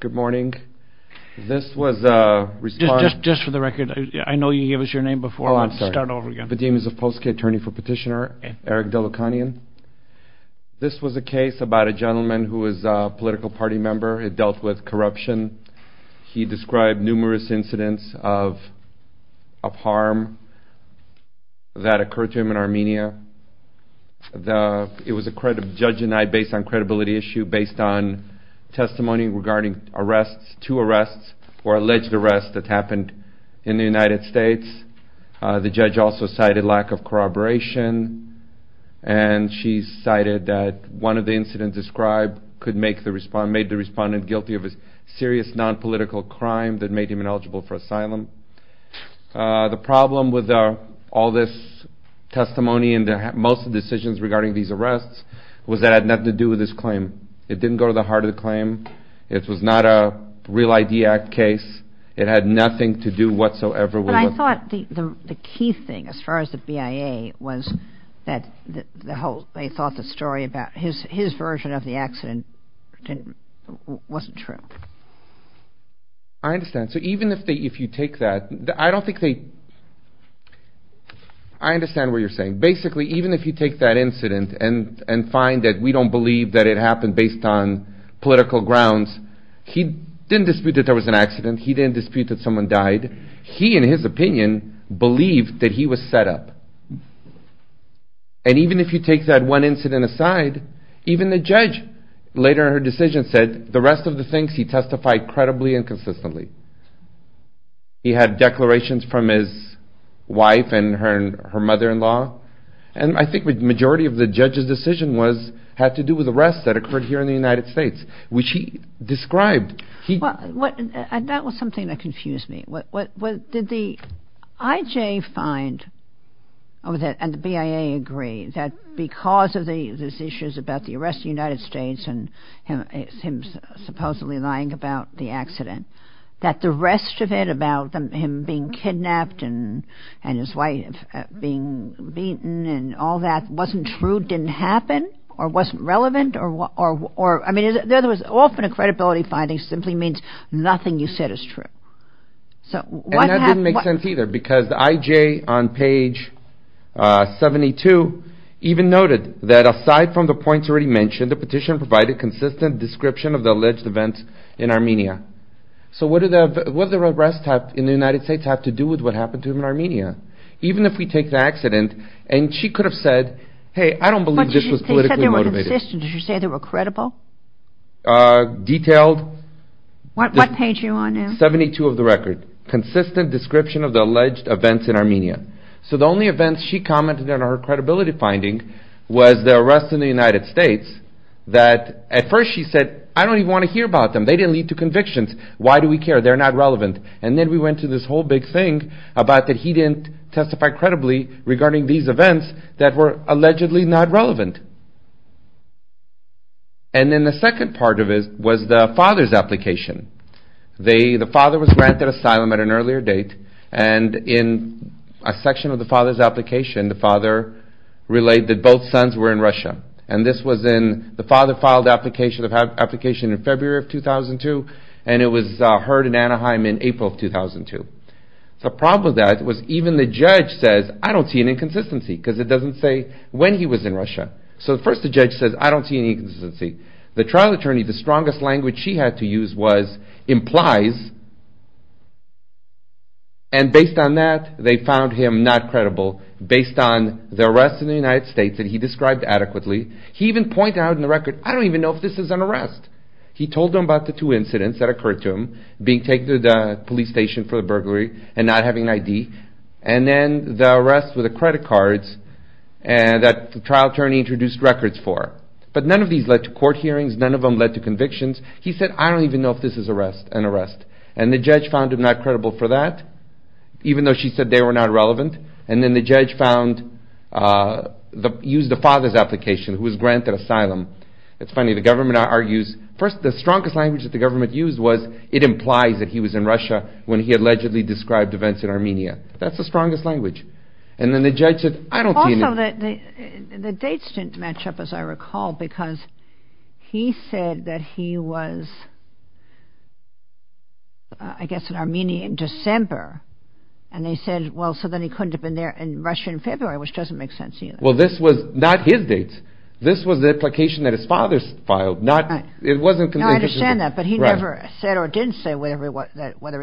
Good morning. This was a response. Just for the record, I know you gave us your name before, but I'll start over again. The name is of Post K. Attorney for Petitioner Eric Dolukhanyan. This was a case about a gentleman who was a political party member. It dealt with corruption. He described numerous incidents of harm that occurred to him in Armenia. It was a judge-denied based on credibility issue based on testimony regarding two arrests or alleged arrests that happened in the United States. The judge also cited lack of corroboration, and she cited that one of the incidents described made the respondent guilty of a serious non-political crime that made him ineligible for asylum. The problem with all this testimony and most of the decisions regarding these arrests was that it had nothing to do with this claim. It didn't go to the heart of the claim. It was not a Real ID Act case. It had nothing to do whatsoever with it. But I thought the key thing as far as the BIA was that they thought the story about his version of the accident wasn't true. I understand. So even if you take that, I don't think they – I understand what you're saying. Basically, even if you take that incident and find that we don't believe that it happened based on political grounds, he didn't dispute that there was an accident. He didn't dispute that someone died. He, in his opinion, believed that he was set up. And even if you take that one incident aside, even the judge later in her decision said the rest of the things he testified credibly and consistently. He had declarations from his wife and her mother-in-law. And I think the majority of the judge's decision was – had to do with arrests that occurred here in the United States, which he described. That was something that confused me. Did the IJ find – and the BIA agree that because of these issues about the arrest in the United States and him supposedly lying about the accident, that the rest of it about him being kidnapped and his wife being beaten and all that wasn't true, didn't happen, or wasn't relevant? I mean, in other words, often a credibility finding simply means nothing you said is true. And that didn't make sense either because the IJ on page 72 even noted that aside from the points already mentioned, the petition provided consistent description of the alleged events in Armenia. So what do the arrests in the United States have to do with what happened to him in Armenia? Even if we take the accident and she could have said, hey, I don't believe this was politically motivated. You said they were consistent. Did you say they were credible? Detailed – What page are you on now? 72 of the record. Consistent description of the alleged events in Armenia. So the only events she commented on her credibility finding was the arrests in the United States that at first she said, I don't even want to hear about them. They didn't lead to convictions. Why do we care? They're not relevant. And then we went to this whole big thing about that he didn't testify credibly regarding these events that were allegedly not relevant. And then the second part of it was the father's application. The father was granted asylum at an earlier date and in a section of the father's application, the father relayed that both sons were in Russia. And this was in the father filed application in February of 2002 and it was heard in Anaheim in April of 2002. The problem with that was even the judge says, I don't see any inconsistency because it doesn't say when he was in Russia. So first the judge says, I don't see any inconsistency. The trial attorney, the strongest language she had to use was implies and based on that they found him not credible based on the arrests in the United States that he described adequately. He even pointed out in the record, I don't even know if this is an arrest. He told them about the two incidents that occurred to him, being taken to the police station for the burglary and not having an ID. And then the arrests with the credit cards that the trial attorney introduced records for. But none of these led to court hearings, none of them led to convictions. He said, I don't even know if this is an arrest. And the judge found him not credible for that even though she said they were not relevant. And then the judge used the father's application who was granted asylum. It's funny, the government argues, first the strongest language that the government used was it implies that he was in Russia when he allegedly described events in Armenia. That's the strongest language. And then the judge said, I don't see any. Also the dates didn't match up as I recall because he said that he was I guess in Armenia in December. And they said, well so then he couldn't have been there in Russia in February which doesn't make sense either. Well this was not his dates. This was the application that his father filed. I understand that but he never said or didn't say whether he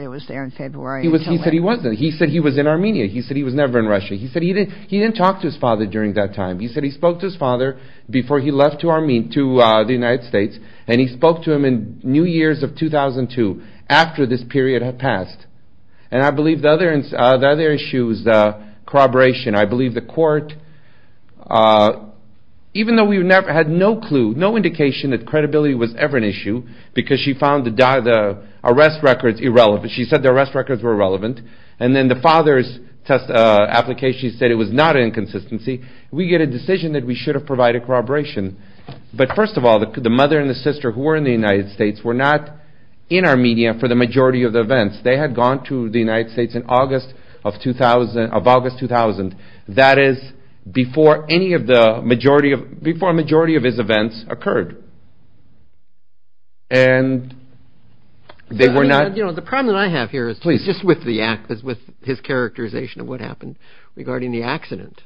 was there in February. He said he wasn't. He said he was in Armenia. He said he was never in Russia. He said he didn't talk to his father during that time. He said he spoke to his father before he left to the United States. And he spoke to him in New Years of 2002 after this period had passed. And I believe the other issue was corroboration. I believe the court, even though we had no clue, no indication that credibility was ever an issue because she found the arrest records irrelevant. She said the arrest records were irrelevant. And then the father's application said it was not an inconsistency. We get a decision that we should have provided corroboration. But first of all, the mother and the sister who were in the United States were not in Armenia for the majority of the events. They had gone to the United States in August 2000. That is before a majority of his events occurred. And they were not... The problem that I have here is just with his characterization of what happened regarding the accident.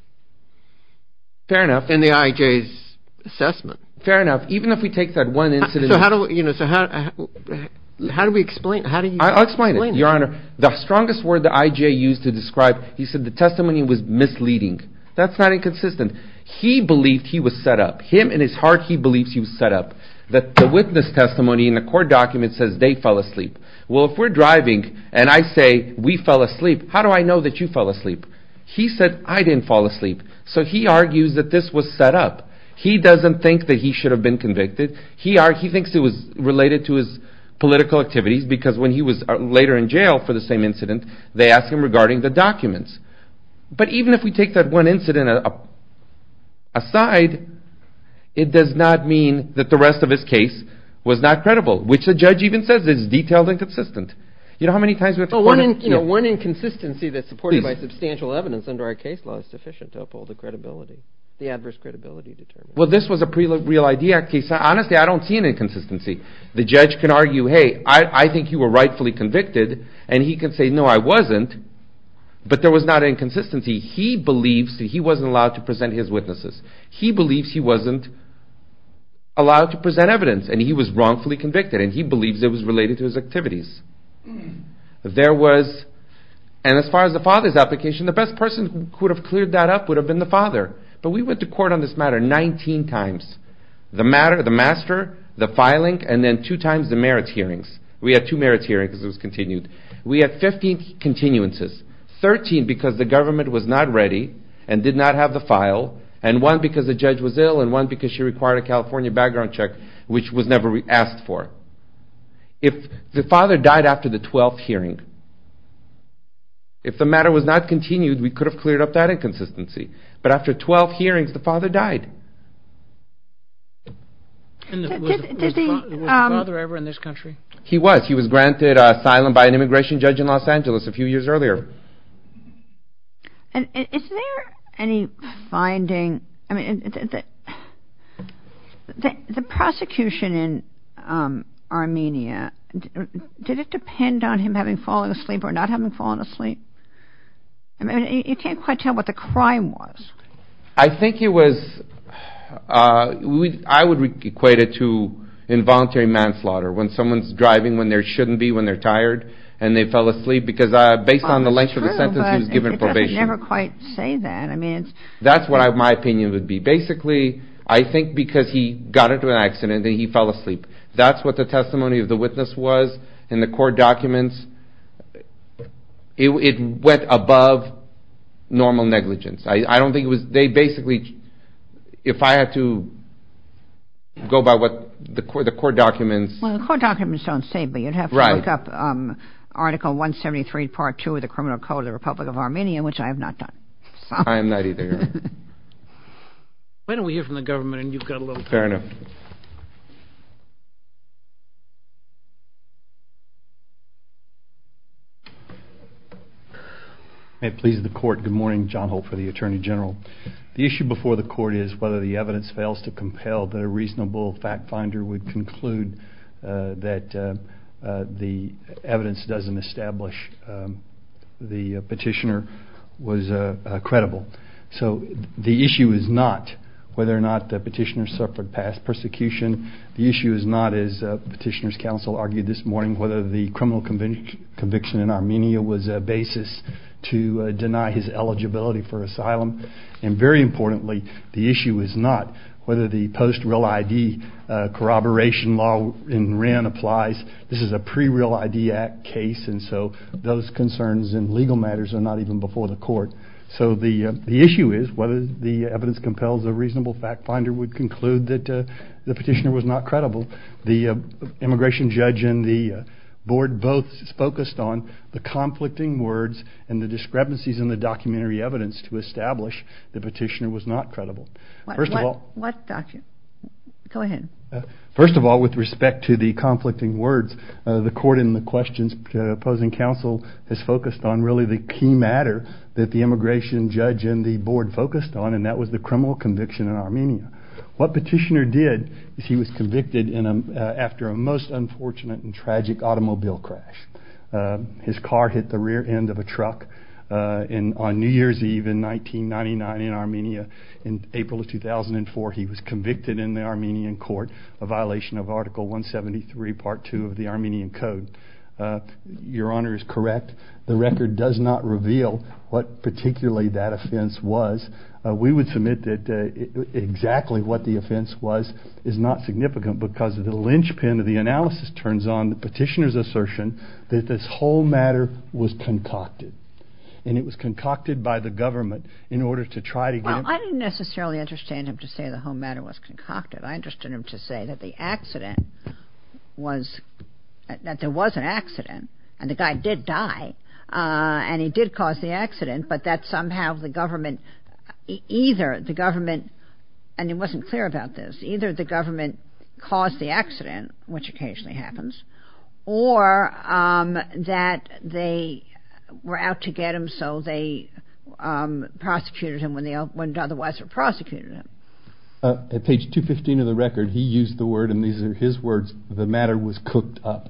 Fair enough. And the IJ's assessment. Fair enough. Even if we take that one incident... So how do we explain it? I'll explain it, Your Honor. The strongest word the IJ used to describe... He said the testimony was misleading. That's not inconsistent. He believed he was set up. Him in his heart, he believes he was set up. The witness testimony in the court document says they fell asleep. Well, if we're driving and I say we fell asleep, how do I know that you fell asleep? He said I didn't fall asleep. So he argues that this was set up. He doesn't think that he should have been convicted. He thinks it was related to his political activities because when he was later in jail for the same incident, they asked him regarding the documents. But even if we take that one incident aside, it does not mean that the rest of his case was not credible, which the judge even says is detailed and consistent. You know how many times we have to point out... One inconsistency that's supported by substantial evidence under our case law is sufficient to uphold the credibility, the adverse credibility determination. Well, this was a pre-real idea case. Honestly, I don't see an inconsistency. The judge can argue, hey, I think you were rightfully convicted. And he can say, no, I wasn't. But there was not an inconsistency. He believes that he wasn't allowed to present his witnesses. He believes he wasn't allowed to present evidence. And he was wrongfully convicted. And he believes it was related to his activities. There was... And as far as the father's application, the best person who would have cleared that up would have been the father. But we went to court on this matter 19 times. The matter, the master, the filing, and then two times the merits hearings. We had two merits hearings because it was continued. We had 15 continuances. 13 because the government was not ready and did not have the file. And one because the judge was ill. And one because she required a California background check, which was never asked for. If the father died after the 12th hearing, if the matter was not continued, we could have cleared up that inconsistency. But after 12 hearings, the father died. Was the father ever in this country? He was. He was granted asylum by an immigration judge in Los Angeles a few years earlier. Is there any finding? The prosecution in Armenia, did it depend on him having fallen asleep or not having fallen asleep? I mean, you can't quite tell what the crime was. I think it was, I would equate it to involuntary manslaughter. When someone's driving when there shouldn't be, when they're tired and they fell asleep. Because based on the length of the sentence, he was given probation. It doesn't never quite say that. That's what my opinion would be. Basically, I think because he got into an accident and he fell asleep. That's what the testimony of the witness was in the court documents. It went above normal negligence. I don't think it was, they basically, if I had to go by what the court documents. Well, the court documents don't say, but you'd have to look up Article 173, Part 2 of the Criminal Code of the Republic of Armenia, which I have not done. I am not either. Why don't we hear from the government and you've got a little time. Fair enough. May it please the court, good morning. John Holt for the Attorney General. The issue before the court is whether the evidence fails to compel the reasonable fact finder would conclude that the evidence doesn't establish the petitioner was credible. So the issue is not whether or not the petitioner suffered past persecution. The issue is not, as petitioner's counsel argued this morning, whether the criminal conviction in Armenia was a basis to deny his eligibility for asylum. And very importantly, the issue is not whether the post-real ID corroboration law in Wren applies. This is a pre-real ID act case, and so those concerns in legal matters are not even before the court. So the issue is whether the evidence compels a reasonable fact finder would conclude that the petitioner was not credible. The immigration judge and the board both focused on the conflicting words and the discrepancies in the documentary evidence to establish the petitioner was not credible. Go ahead. The immigration judge and the board focused on, and that was the criminal conviction in Armenia. What petitioner did is he was convicted after a most unfortunate and tragic automobile crash. His car hit the rear end of a truck on New Year's Eve in 1999 in Armenia. In April of 2004, he was convicted in the Armenian court of violation of Article 173, Part 2 of the Armenian Code. Your Honor is correct. The record does not reveal what particularly that offense was. We would submit that exactly what the offense was is not significant because the linchpin of the analysis turns on the petitioner's assertion that this whole matter was concocted. And it was concocted by the government in order to try to get... and the guy did die and he did cause the accident, but that somehow the government, either the government, and it wasn't clear about this, either the government caused the accident, which occasionally happens, or that they were out to get him so they prosecuted him when they otherwise would have prosecuted him. At page 215 of the record, he used the word, and these are his words, the matter was cooked up.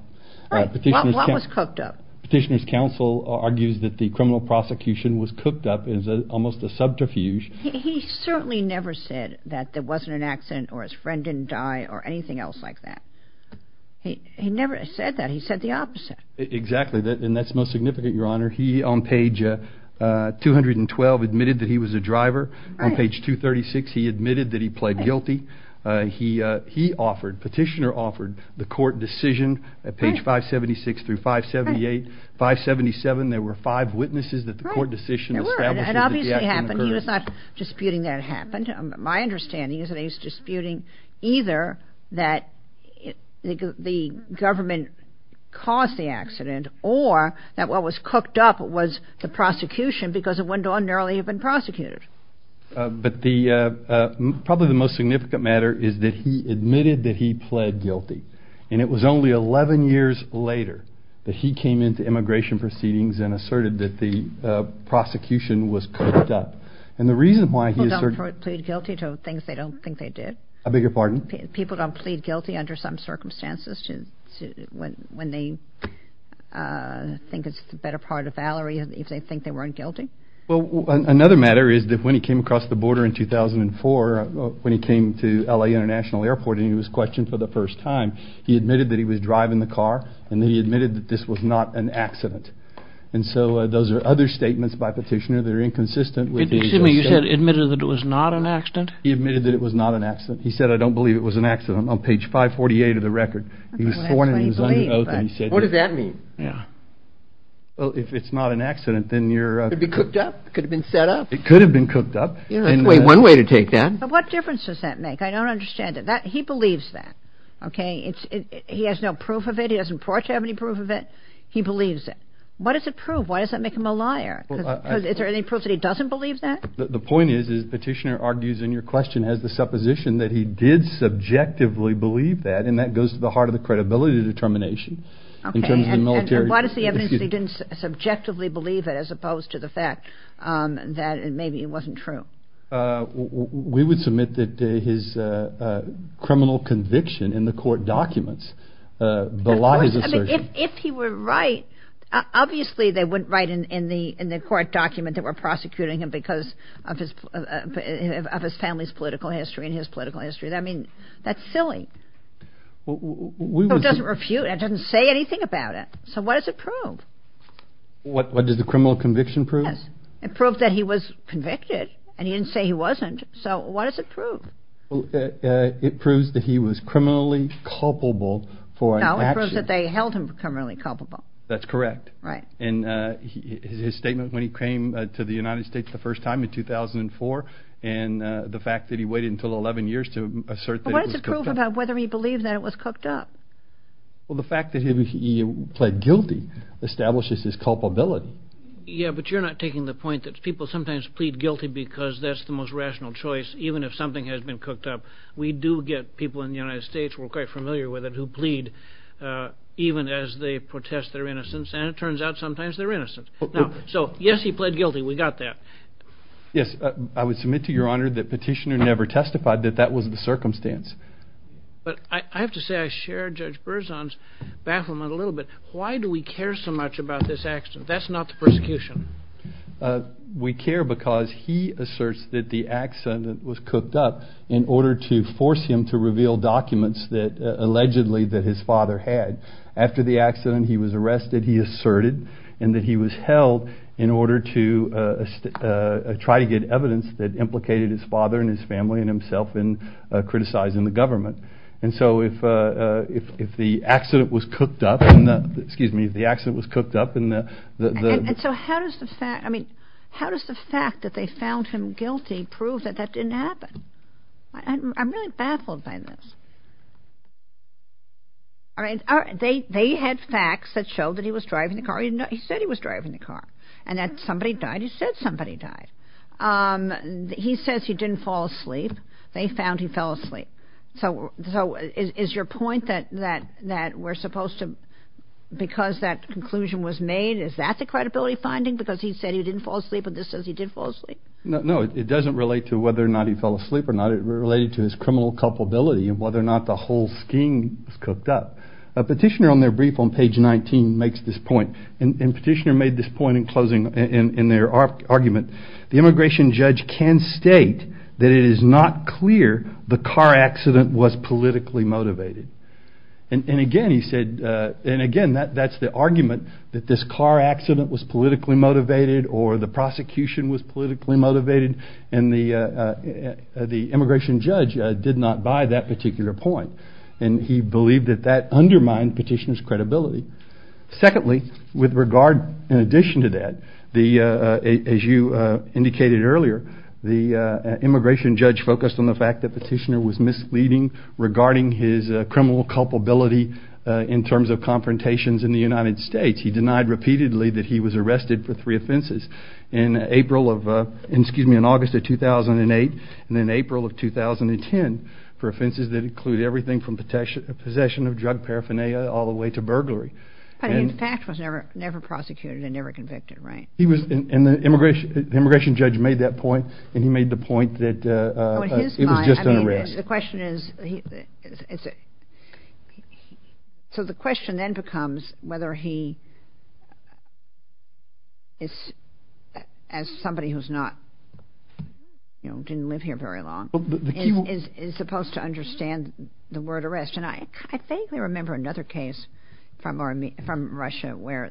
Right, what was cooked up? Petitioner's counsel argues that the criminal prosecution was cooked up as almost a subterfuge. He certainly never said that there wasn't an accident or his friend didn't die or anything else like that. He never said that. He said the opposite. Exactly, and that's most significant, Your Honor. He, on page 212, admitted that he was a driver. Right. On page 236, he admitted that he pled guilty. He offered, petitioner offered, the court decision at page 576 through 578. Right. 577, there were five witnesses that the court decision established that the accident occurred. There were, and it obviously happened. He was not disputing that it happened. My understanding is that he was disputing either that the government caused the accident or that what was cooked up was the prosecution because it wouldn't ordinarily have been prosecuted. But the, probably the most significant matter is that he admitted that he pled guilty, and it was only 11 years later that he came into immigration proceedings and asserted that the prosecution was cooked up. People don't plead guilty to things they don't think they did? I beg your pardon? People don't plead guilty under some circumstances when they think it's the better part of valour if they think they weren't guilty? Well, another matter is that when he came across the border in 2004, when he came to L.A. International Airport and he was questioned for the first time, he admitted that he was driving the car and he admitted that this was not an accident. And so those are other statements by Petitioner that are inconsistent with his assertion. You said he admitted that it was not an accident? He admitted that it was not an accident. He said, I don't believe it was an accident. On page 548 of the record, he was sworn in his own oath. What does that mean? Well, if it's not an accident, then you're... Could it be cooked up? Could it have been set up? It could have been cooked up. Wait, one way to take that. But what difference does that make? I don't understand it. He believes that, okay? He has no proof of it. He doesn't report to have any proof of it. He believes it. What does it prove? Why does that make him a liar? Because is there any proof that he doesn't believe that? The point is, is Petitioner argues in your question has the supposition that he did subjectively believe that, and that goes to the heart of the credibility determination in terms of the military... Okay, and what is the evidence that he didn't subjectively believe it as opposed to the fact that maybe it wasn't true? If he were right, obviously they wouldn't write in the court document that we're prosecuting him because of his family's political history and his political history. I mean, that's silly. It doesn't refute. It doesn't say anything about it. So what does it prove? What does the criminal conviction prove? It proved that he was convicted, and he didn't say he wasn't. So what does it prove? It proves that he was criminally culpable for an action. No, it proves that they held him criminally culpable. That's correct. Right. And his statement when he came to the United States the first time in 2004 and the fact that he waited until 11 years to assert that it was cooked up. But what does it prove about whether he believed that it was cooked up? Well, the fact that he pled guilty establishes his culpability. Yeah, but you're not taking the point that people sometimes plead guilty because that's the most rational choice even if something has been cooked up. We do get people in the United States, we're quite familiar with it, who plead even as they protest their innocence, and it turns out sometimes they're innocent. So, yes, he pled guilty. We got that. Yes, I would submit to Your Honor that Petitioner never testified that that was the circumstance. But I have to say I share Judge Berzon's bafflement a little bit. Why do we care so much about this accident? That's not the persecution. We care because he asserts that the accident was cooked up in order to force him to reveal documents that allegedly that his father had. After the accident he was arrested, he asserted, and that he was held in order to try to get evidence that implicated his father and his family and himself in criticizing the government. And so if the accident was cooked up, excuse me, if the accident was cooked up, And so how does the fact that they found him guilty prove that that didn't happen? I'm really baffled by this. They had facts that showed that he was driving the car. He said he was driving the car and that somebody died. He said somebody died. He says he didn't fall asleep. They found he fell asleep. So is your point that we're supposed to, because that conclusion was made, is that the credibility finding because he said he didn't fall asleep and this says he did fall asleep? No, it doesn't relate to whether or not he fell asleep or not. It related to his criminal culpability and whether or not the whole scheme was cooked up. A petitioner on their brief on page 19 makes this point. And the petitioner made this point in closing in their argument. The immigration judge can state that it is not clear the car accident was politically motivated. And again he said, and again that's the argument, that this car accident was politically motivated or the prosecution was politically motivated and the immigration judge did not buy that particular point. And he believed that that undermined petitioner's credibility. Secondly, with regard, in addition to that, as you indicated earlier, the immigration judge focused on the fact that petitioner was misleading regarding his criminal culpability in terms of confrontations in the United States. He denied repeatedly that he was arrested for three offenses in August of 2008 and in April of 2010 for offenses that include everything from possession of drug paraphernalia all the way to burglary. But he in fact was never prosecuted and never convicted, right? And the immigration judge made that point and he made the point that it was just an arrest. So the question then becomes whether he, as somebody who didn't live here very long, is supposed to understand the word arrest. And I vaguely remember another case from Russia where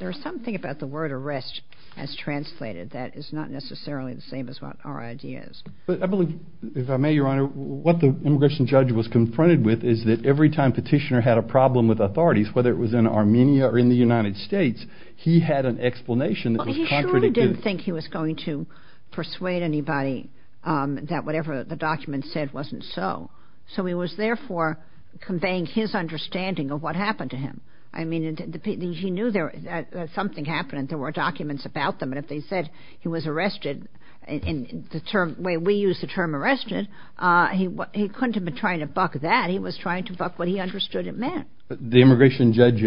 there's something about the word arrest as translated that is not necessarily the same as what our idea is. But I believe, if I may, Your Honor, what the immigration judge was confronted with is that every time petitioner had a problem with authorities, whether it was in Armenia or in the United States, he had an explanation that was contradictory. Well, he surely didn't think he was going to persuade anybody that whatever the document said wasn't so. So he was, therefore, conveying his understanding of what happened to him. I mean, he knew that something happened and there were documents about them. And if they said he was arrested in the way we use the term arrested, he couldn't have been trying to buck that. He was trying to buck what he understood it meant. The immigration judge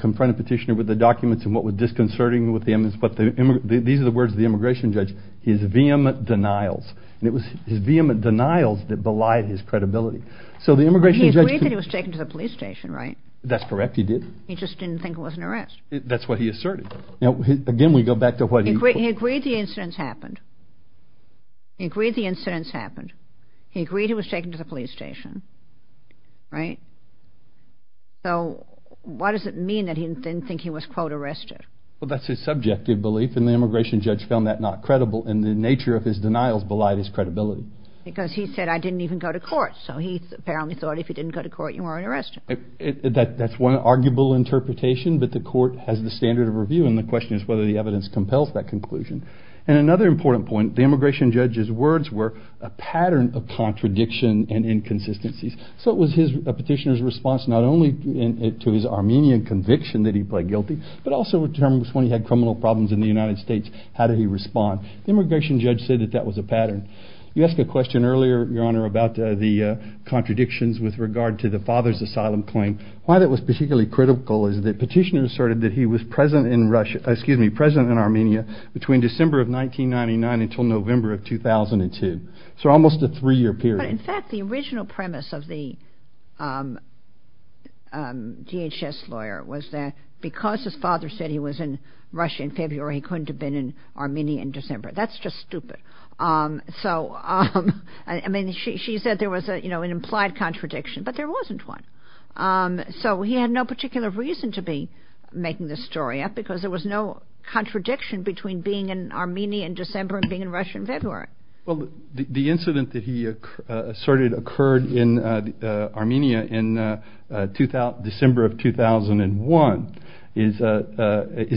confronted petitioner with the documents and what was disconcerting with the evidence. These are the words of the immigration judge, his vehement denials. And it was his vehement denials that belied his credibility. So the immigration judge... He agreed that he was taken to the police station, right? That's correct, he did. He just didn't think it was an arrest. That's what he asserted. Now, again, we go back to what he... He agreed the incidents happened. He agreed the incidents happened. He agreed he was taken to the police station, right? So why does it mean that he didn't think he was, quote, arrested? Well, that's his subjective belief and the immigration judge found that not credible and the nature of his denials belied his credibility. Because he said, I didn't even go to court. So he apparently thought if you didn't go to court, you weren't arrested. That's one arguable interpretation, but the court has the standard of review and the question is whether the evidence compels that conclusion. And another important point, the immigration judge's words were a pattern of contradiction and inconsistencies. So it was a petitioner's response not only to his Armenian conviction that he pled guilty, but also when he had criminal problems in the United States, how did he respond? The immigration judge said that that was a pattern. You asked a question earlier, Your Honor, about the contradictions with regard to the father's asylum claim. Why that was particularly critical is that petitioner asserted that he was present in Russia... Excuse me, present in Armenia between December of 1999 until November of 2002. So almost a three-year period. But, in fact, the original premise of the DHS lawyer was that because his father said he was in Russia in February, he couldn't have been in Armenia in December. That's just stupid. So, I mean, she said there was an implied contradiction, but there wasn't one. So he had no particular reason to be making this story up because there was no contradiction between being in Armenia in December and being in Russia in February. Well, the incident that he asserted occurred in Armenia in December of 2001 is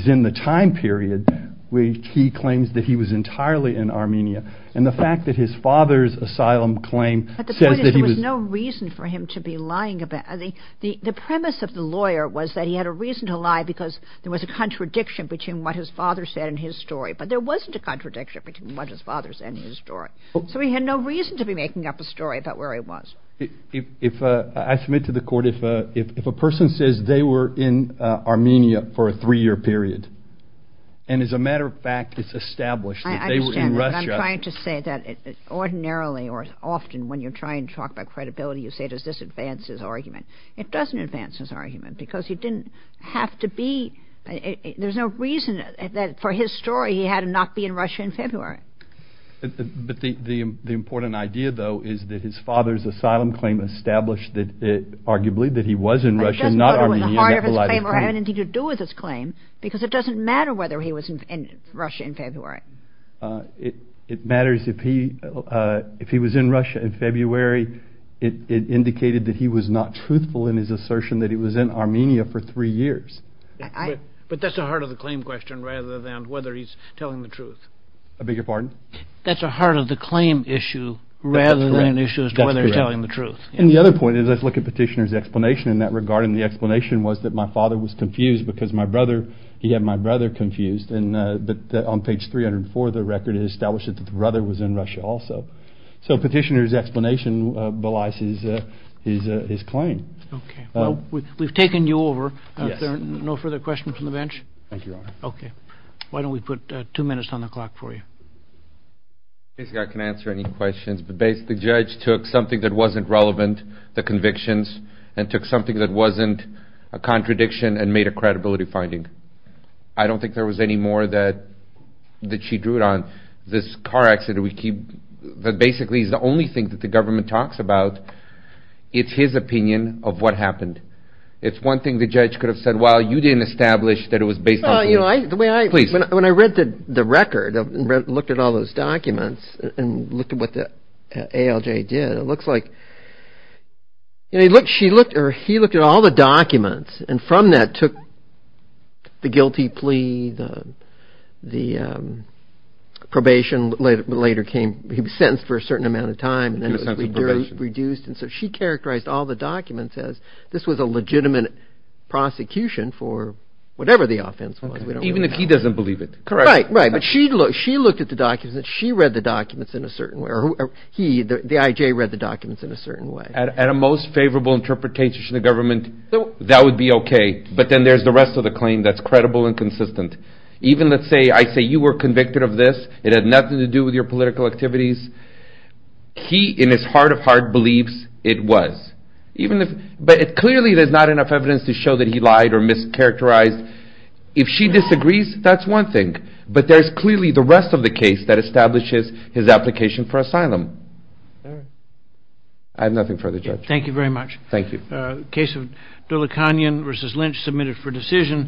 in the time period where he claims that he was entirely in Armenia. And the fact that his father's asylum claim says that he was... But the point is there was no reason for him to be lying about... The premise of the lawyer was that he had a reason to lie because there was a contradiction between what his father said and his story. But there wasn't a contradiction between what his father said and his story. So he had no reason to be making up a story about where he was. I submit to the court, if a person says they were in Armenia for a three-year period, and as a matter of fact, it's established that they were in Russia... I understand that, but I'm trying to say that ordinarily or often when you're trying to talk about credibility, you say, does this advance his argument? It doesn't advance his argument because he didn't have to be... There's no reason that for his story he had to not be in Russia in February. But the important idea, though, is that his father's asylum claim established arguably that he was in Russia, not Armenia... But it doesn't go to the heart of his claim or have anything to do with his claim because it doesn't matter whether he was in Russia in February. It matters if he was in Russia in February. It indicated that he was not truthful in his assertion that he was in Armenia for three years. But that's the heart of the claim question rather than whether he's telling the truth. I beg your pardon? That's the heart of the claim issue rather than an issue as to whether he's telling the truth. That's correct. And the other point is let's look at Petitioner's explanation in that regard, and the explanation was that my father was confused because he had my brother confused. But on page 304 of the record it establishes that the brother was in Russia also. So Petitioner's explanation belies his claim. Okay. Well, we've taken you over. Are there no further questions from the bench? Thank you, Your Honor. Okay. Why don't we put two minutes on the clock for you? Basically I can answer any questions, but basically the judge took something that wasn't relevant, the convictions, and took something that wasn't a contradiction and made a credibility finding. I don't think there was any more that she drew it on. This car accident that basically is the only thing that the government talks about, it's his opinion of what happened. It's one thing the judge could have said, well, you didn't establish that it was based on. When I read the record and looked at all those documents and looked at what the ALJ did, it looks like she looked or he looked at all the documents, and from that took the guilty plea, the probation later came. He was sentenced for a certain amount of time, and then it was reduced. So she characterized all the documents as this was a legitimate prosecution for whatever the offense was. Even if he doesn't believe it. Right, right. But she looked at the documents, and she read the documents in a certain way, or he, the IJ, read the documents in a certain way. At a most favorable interpretation of the government, that would be okay, but then there's the rest of the claim that's credible and consistent. Even let's say I say you were convicted of this. It had nothing to do with your political activities. He, in his heart of hearts, believes it was. But clearly there's not enough evidence to show that he lied or mischaracterized. If she disagrees, that's one thing. But there's clearly the rest of the case that establishes his application for asylum. I have nothing further, Judge. Thank you very much. Thank you. Case of Dulacanian v. Lynch submitted for decision.